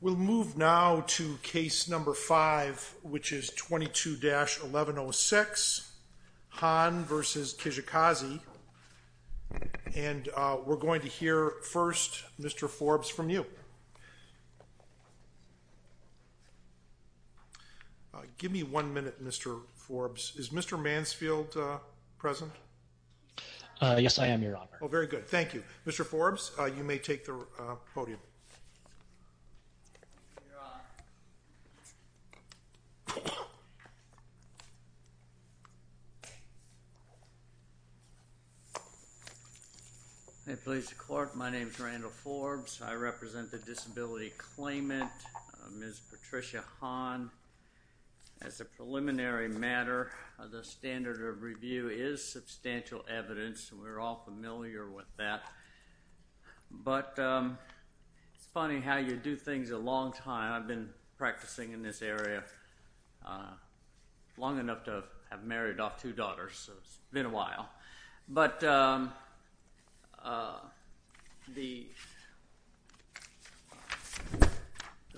We'll move now to Case No. 5, which is 22-1106, Hahn v. Kijakazi. And we're going to hear from Mr. Forbes. Mr. Forbes, you may take the podium. Mr. Forbes, you may take the podium. Mr. Forbes, you may take the podium.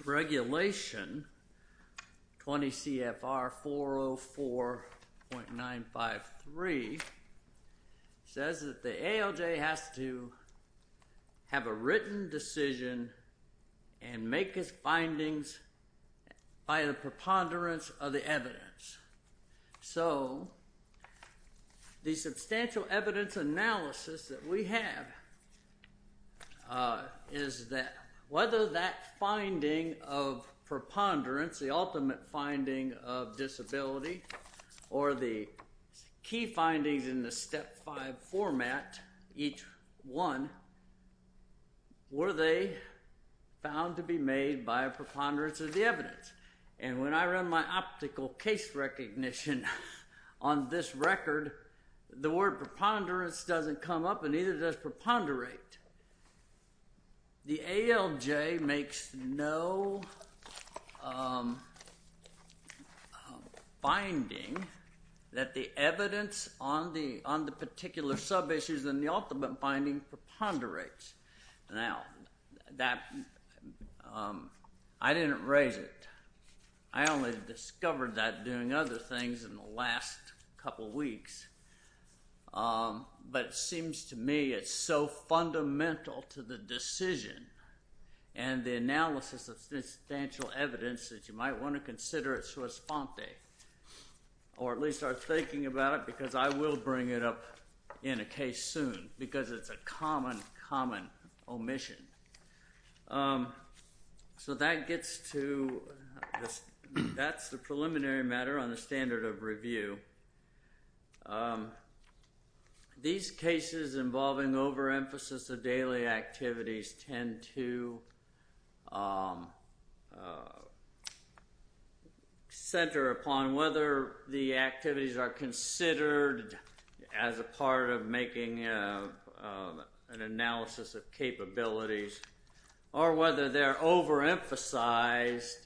Regulation 20 CFR 404.953 says that the ALJ has to have a written decision and make its findings by the preponderance of the evidence. So the substantial evidence analysis that we have is that whether that finding of preponderance, the ultimate finding of disability, or the key findings in the Step 5 format, each one, were they found to be made by a preponderance of the evidence? And when I run my optical case recognition on this record, the word preponderance doesn't come up and neither does preponderate. The ALJ makes no finding that the evidence on the particular sub-issues in the ultimate finding preponderates. Now, I didn't raise it. I only discovered that doing other things in the last couple weeks. But it seems to me it's so fundamental to the decision and the analysis of substantial evidence that you might want to consider at in a case soon because it's a common, common omission. So that gets to this. That's the preliminary matter on the standard of review. These cases involving overemphasis of daily activities tend to center upon whether the activities are considered as a part of making an analysis of capabilities or whether they're overemphasized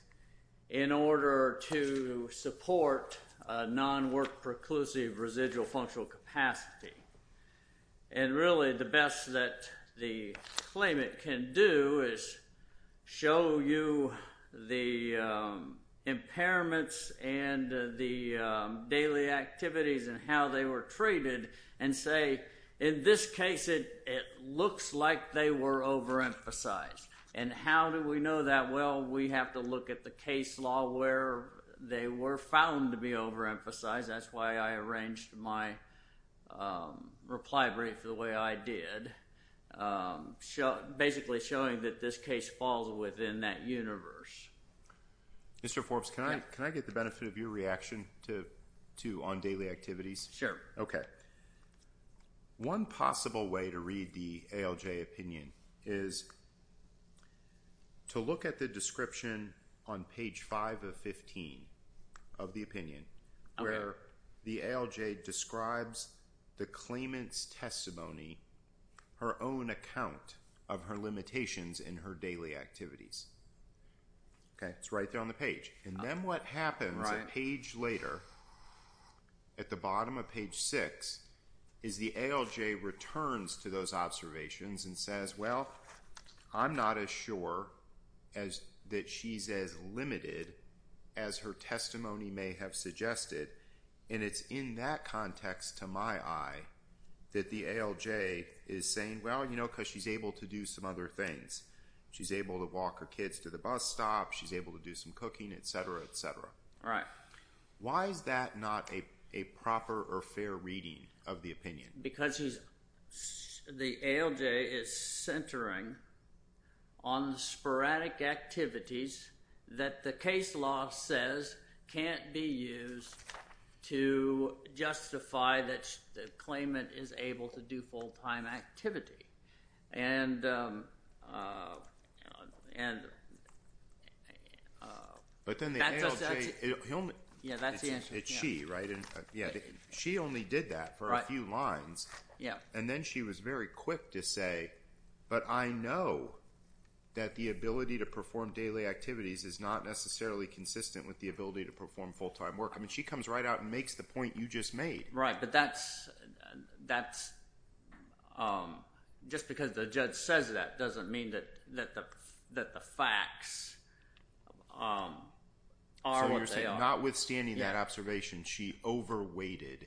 in order to support a non-work-preclusive residual functional capacity. And really the best that the claimant can do is show you the impairments and the daily activities and how they were treated and say, in this case, it looks like they were overemphasized. And how do we know that? Well, we have to look at the case law where they were found to be overemphasized. That's why I arranged my reply brief the way I did, basically showing that this case falls within that universe. Mr. Forbes, can I get the benefit of your reaction on daily activities? Sure. One possible way to read the ALJ opinion is to look at the description on page 5 of 15 of the opinion where the ALJ describes the claimant's testimony, her own account of her limitations in her daily activities. It's right there on the page. And then what happens a page later, at the bottom of page 6, is the ALJ returns to those observations and says, well, I'm not as sure that she's as limited as her testimony may have suggested. And it's in that context, to my eye, that the ALJ is saying, well, you know, because she's able to do some other things. She's able to walk her kids to the bus stop. She's able to do some cooking, etc., etc. Right. Why is that not a proper or fair reading of the opinion? Because the ALJ is centering on the sporadic activities that the case law says can't be used to justify that the claimant is able to do full-time activity. But then the ALJ – it's she, right? She only did that for a few lines. And then she was very quick to say, but I know that the ability to perform daily activities is not necessarily consistent with the ability to perform full-time work. I mean she comes right out and makes the point you just made. Right, but that's – just because the judge says that doesn't mean that the facts are what they are. So you're saying notwithstanding that observation, she over-weighted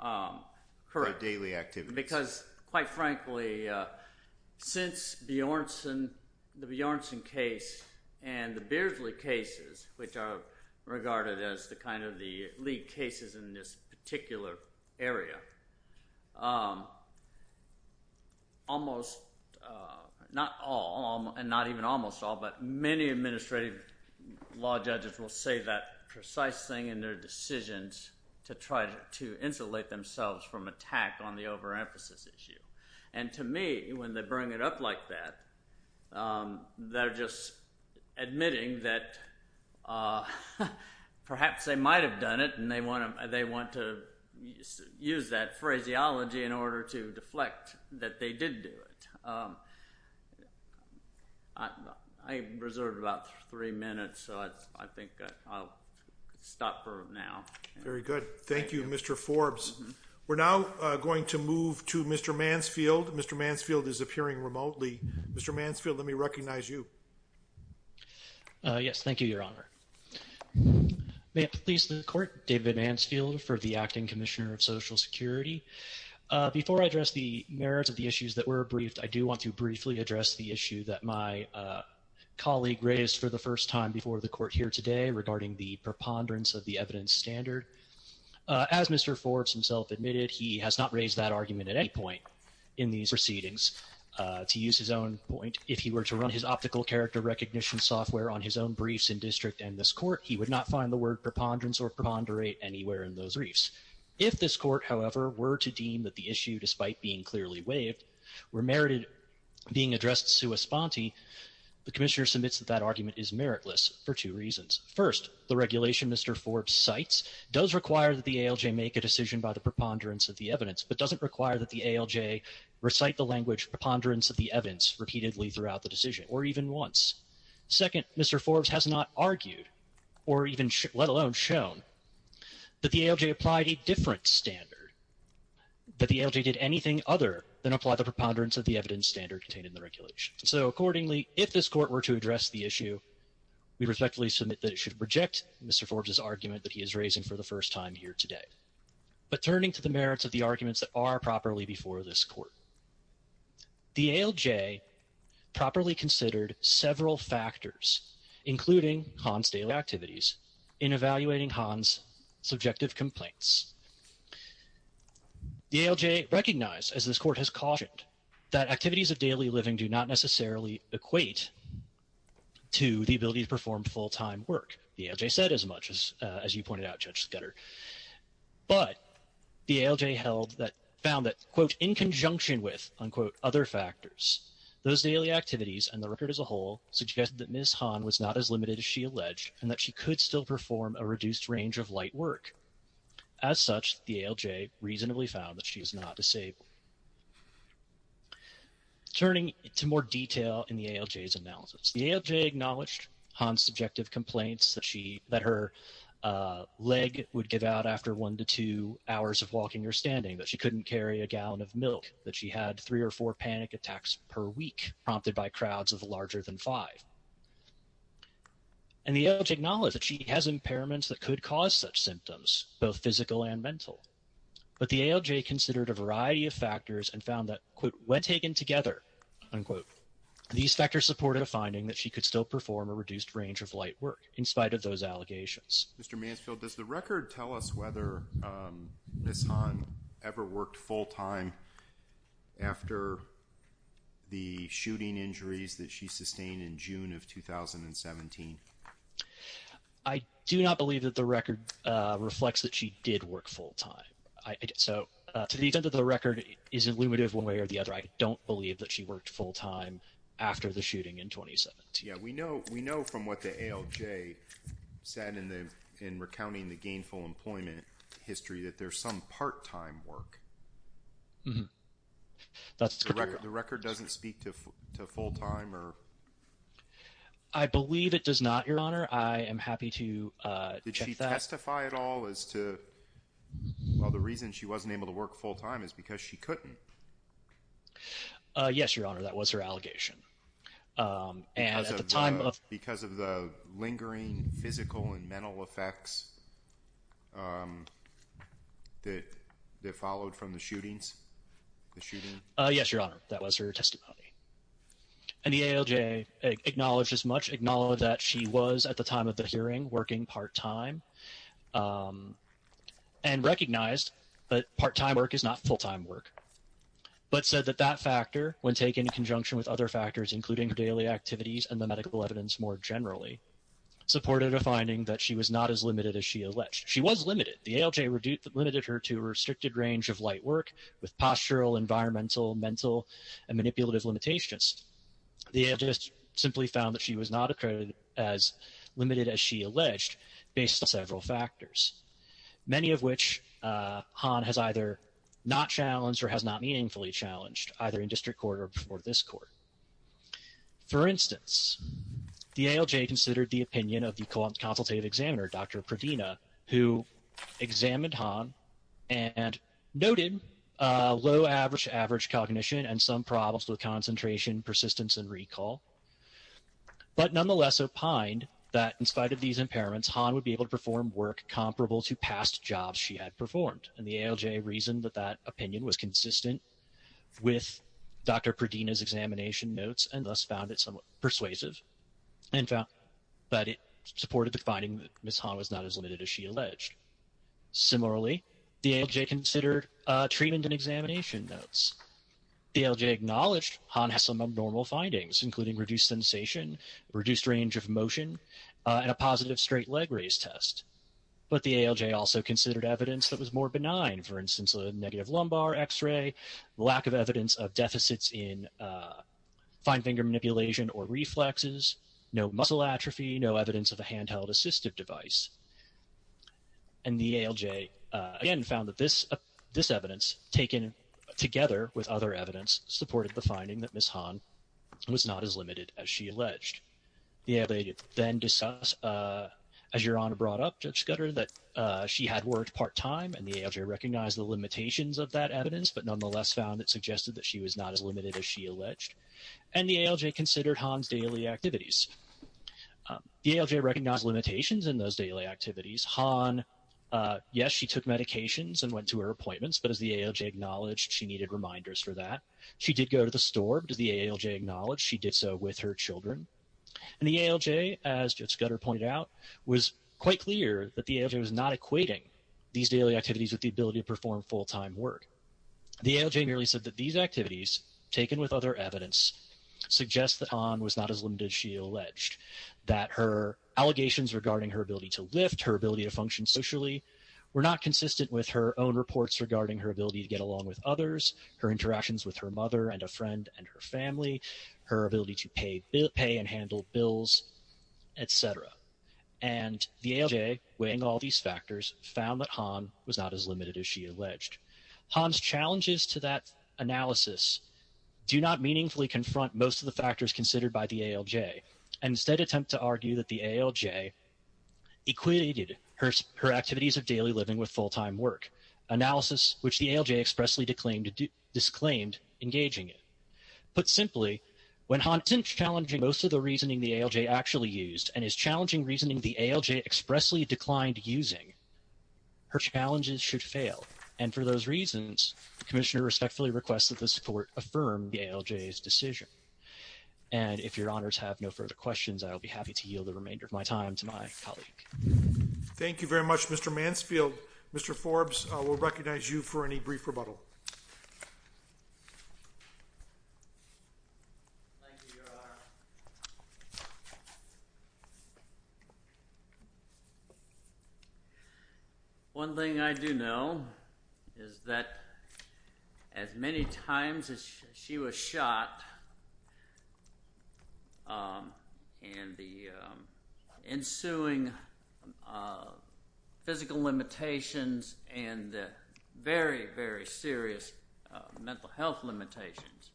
her daily activities. Because, quite frankly, since Bjornsson – the Bjornsson case and the Beardsley cases, which are regarded as the kind of the lead cases in this particular area, almost – not all and not even almost all, but many administrative law judges will say that precise thing in their decisions to try to insulate themselves from attack on the over-emphasis. And to me, when they bring it up like that, they're just admitting that perhaps they might have done it and they want to use that phraseology in order to deflect that they did do it. I reserved about three minutes, so I think I'll stop for now. Very good. Thank you, Mr. Forbes. We're now going to move to Mr. Mansfield. Mr. Mansfield is appearing remotely. Mr. Mansfield, let me recognize you. Yes, thank you, Your Honor. May it please the Court, David Mansfield for the Acting Commissioner of Social Security. Before I address the merits of the issues that were briefed, I do want to briefly address the issue that my colleague raised for the first time before the Court here today regarding the preponderance of the evidence standard. As Mr. Forbes himself admitted, he has not raised that argument at any point in these proceedings. To use his own point, if he were to run his optical character recognition software on his own briefs in district and this Court, he would not find the word preponderance or preponderate anywhere in those briefs. If this Court, however, were to deem that the issue, despite being clearly waived, were merited being addressed sua sponte, the Commissioner submits that that argument is meritless for two reasons. First, the regulation Mr. Forbes cites does require that the ALJ make a decision by the preponderance of the evidence, but doesn't require that the ALJ recite the language preponderance of the evidence repeatedly throughout the decision or even once. Second, Mr. Forbes has not argued or even let alone shown that the ALJ applied a different standard, that the ALJ did anything other than apply the preponderance of the evidence standard contained in the regulation. So accordingly, if this Court were to address the issue, we respectfully submit that it should reject Mr. Forbes' argument that he is raising for the first time here today. But turning to the merits of the arguments that are properly before this Court, the ALJ properly considered several factors, including Han's daily activities, in evaluating Han's subjective complaints. The ALJ recognized, as this Court has cautioned, that activities of daily living do not necessarily equate to the ability to perform full-time work. The ALJ said as much as you pointed out, Judge Scudder. But the ALJ found that, quote, in conjunction with, unquote, other factors, those daily activities and the record as a whole suggested that Ms. Han was not as limited as she alleged and that she could still perform a reduced range of light work. As such, the ALJ reasonably found that she is not disabled. Turning to more detail in the ALJ's analysis, the ALJ acknowledged Han's subjective complaints that her leg would give out after one to two hours of walking or standing, that she couldn't carry a gallon of milk, that she had three or four panic attacks per week prompted by crowds of larger than five. And the ALJ acknowledged that she has impairments that could cause such symptoms, both physical and mental. But the ALJ considered a variety of factors and found that, quote, when taken together, unquote, these factors supported a finding that she could still perform a reduced range of light work in spite of those allegations. Mr. Mansfield, does the record tell us whether Ms. Han ever worked full-time after the shooting injuries that she sustained in June of 2017? I do not believe that the record reflects that she did work full-time. So to the extent that the record isn't limited one way or the other, I don't believe that she worked full-time after the shooting in 2017. Yeah, we know from what the ALJ said in recounting the gainful employment history that there's some part-time work. Mm-hmm. That's correct. The record doesn't speak to full-time or? I believe it does not, Your Honor. I am happy to check that. Did she testify at all as to, well, the reason she wasn't able to work full-time is because she couldn't? Yes, Your Honor, that was her allegation. Because of the lingering physical and mental effects that followed from the shootings? Yes, Your Honor, that was her testimony. And the ALJ acknowledged as much, acknowledged that she was, at the time of the hearing, working part-time, and recognized that part-time work is not full-time work. But said that that factor, when taken in conjunction with other factors, including her daily activities and the medical evidence more generally, supported a finding that she was not as limited as she alleged. She was limited. The ALJ limited her to a restricted range of light work with postural, environmental, mental, and manipulative limitations. The ALJ simply found that she was not as limited as she alleged based on several factors, many of which Han has either not challenged or has not meaningfully challenged, either in district court or before this court. For instance, the ALJ considered the opinion of the consultative examiner, Dr. Provena, who examined Han and noted low average cognition and some problems with concentration, persistence, and recall, but nonetheless opined that, in spite of these impairments, Han would be able to perform work comparable to past jobs she had performed. And the ALJ reasoned that that opinion was consistent with Dr. Provena's examination notes and thus found it somewhat persuasive, but it supported the finding that Ms. Han was not as limited as she alleged. Similarly, the ALJ considered treatment and examination notes. The ALJ acknowledged Han had some abnormal findings, including reduced sensation, reduced range of motion, and a positive straight leg raise test. But the ALJ also considered evidence that was more benign, for instance, a negative lumbar x-ray, lack of evidence of deficits in fine finger manipulation or reflexes, no muscle atrophy, no evidence of a handheld assistive device. And the ALJ again found that this evidence, taken together with other evidence, supported the finding that Ms. Han was not as limited as she alleged. The ALJ then discussed, as Your Honor brought up, Judge Scudder, that she had worked part-time, and the ALJ recognized the limitations of that evidence, but nonetheless found it suggested that she was not as limited as she alleged. And the ALJ considered Han's daily activities. The ALJ recognized limitations in those daily activities. Han, yes, she took medications and went to her appointments, but as the ALJ acknowledged, she needed reminders for that. She did go to the store, but as the ALJ acknowledged, she did so with her children. And the ALJ, as Judge Scudder pointed out, was quite clear that the ALJ was not equating these daily activities with the ability to perform full-time work. The ALJ merely said that these activities, taken with other evidence, suggest that Han was not as limited as she alleged. That her allegations regarding her ability to lift, her ability to function socially, were not consistent with her own reports regarding her ability to get along with others, her interactions with her mother and a friend and her family, her ability to pay and handle bills, etc. And the ALJ, weighing all these factors, found that Han was not as limited as she alleged. Han's challenges to that analysis do not meaningfully confront most of the factors considered by the ALJ and instead attempt to argue that the ALJ equated her activities of daily living with full-time work, analysis which the ALJ expressly disclaimed engaging in. Put simply, when Han isn't challenging most of the reasoning the ALJ actually used and is challenging reasoning the ALJ expressly declined using, her challenges should fail. For those reasons, the Commissioner respectfully requests that this Court affirm the ALJ's decision. And if Your Honors have no further questions, I will be happy to yield the remainder of my time to my colleague. Thank you very much, Mr. Mansfield. Mr. Forbes, we'll recognize you for any brief rebuttal. Thank you, Your Honor. One thing I do know is that as many times as she was shot and the ensuing physical limitations and the very, very serious mental health limitations,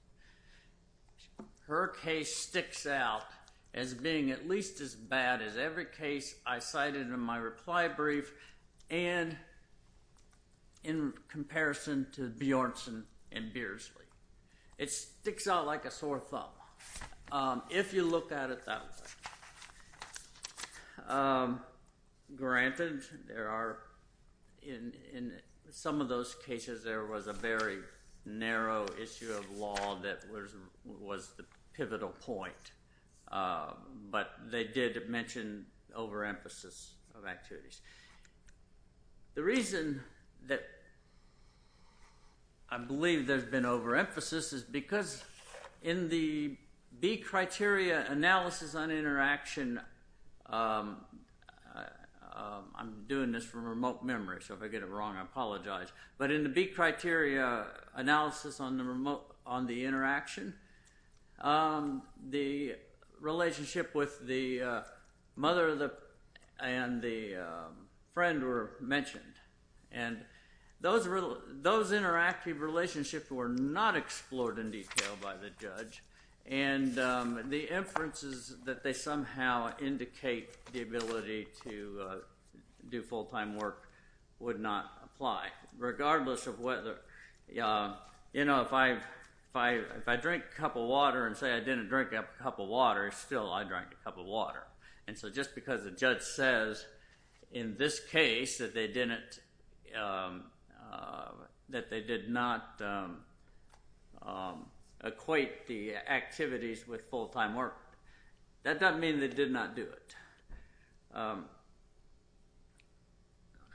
her case sticks out as being at least as bad as every case I cited in my reply brief and in comparison to Bjornsson and Beardsley. It sticks out like a sore thumb if you look at it that way. Granted, in some of those cases there was a very narrow issue of law that was the pivotal point, but they did mention overemphasis of activities. The reason that I believe there's been overemphasis is because in the B criteria analysis on interaction I'm doing this from remote memory, so if I get it wrong, I apologize. But in the B criteria analysis on the interaction, the relationship with the mother and the friend were mentioned. And those interactive relationships were not explored in detail by the judge and the inferences that they somehow indicate the ability to do full-time work would not apply. Regardless of whether, you know, if I drink a cup of water and say I didn't drink a cup of water, still I drank a cup of water. And so just because the judge says in this case that they did not equate the activities with full-time work, that doesn't mean they did not do it.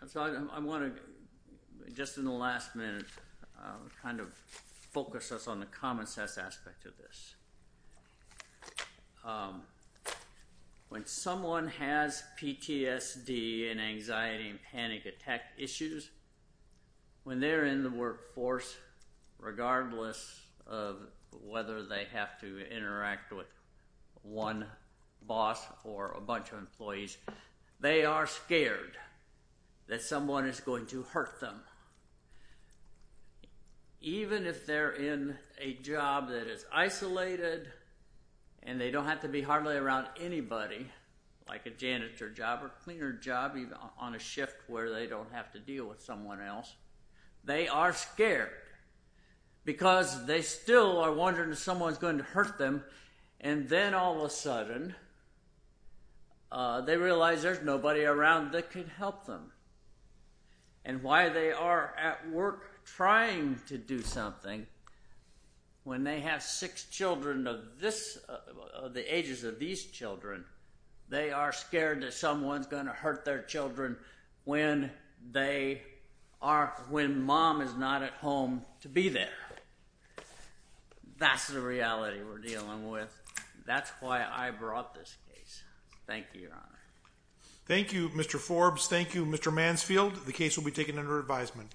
So I want to, just in the last minute, kind of focus us on the common sense aspect of this. When someone has PTSD and anxiety and panic attack issues, when they're in the workforce, regardless of whether they have to interact with one boss or a bunch of employees, they are scared that someone is going to hurt them. Even if they're in a job that is isolated and they don't have to be hardly around anybody, like a janitor job or cleaner job on a shift where they don't have to deal with someone else, they are scared because they still are wondering if someone is going to hurt them and then all of a sudden they realize there's nobody around that can help them. And why they are at work trying to do something when they have six children of the ages of these children, they are scared that someone is going to hurt their children when mom is not at home to be there. That's the reality we're dealing with. That's why I brought this case. Thank you, Your Honor. Thank you, Mr. Forbes. Thank you, Mr. Mansfield. The case will be taken under advisement.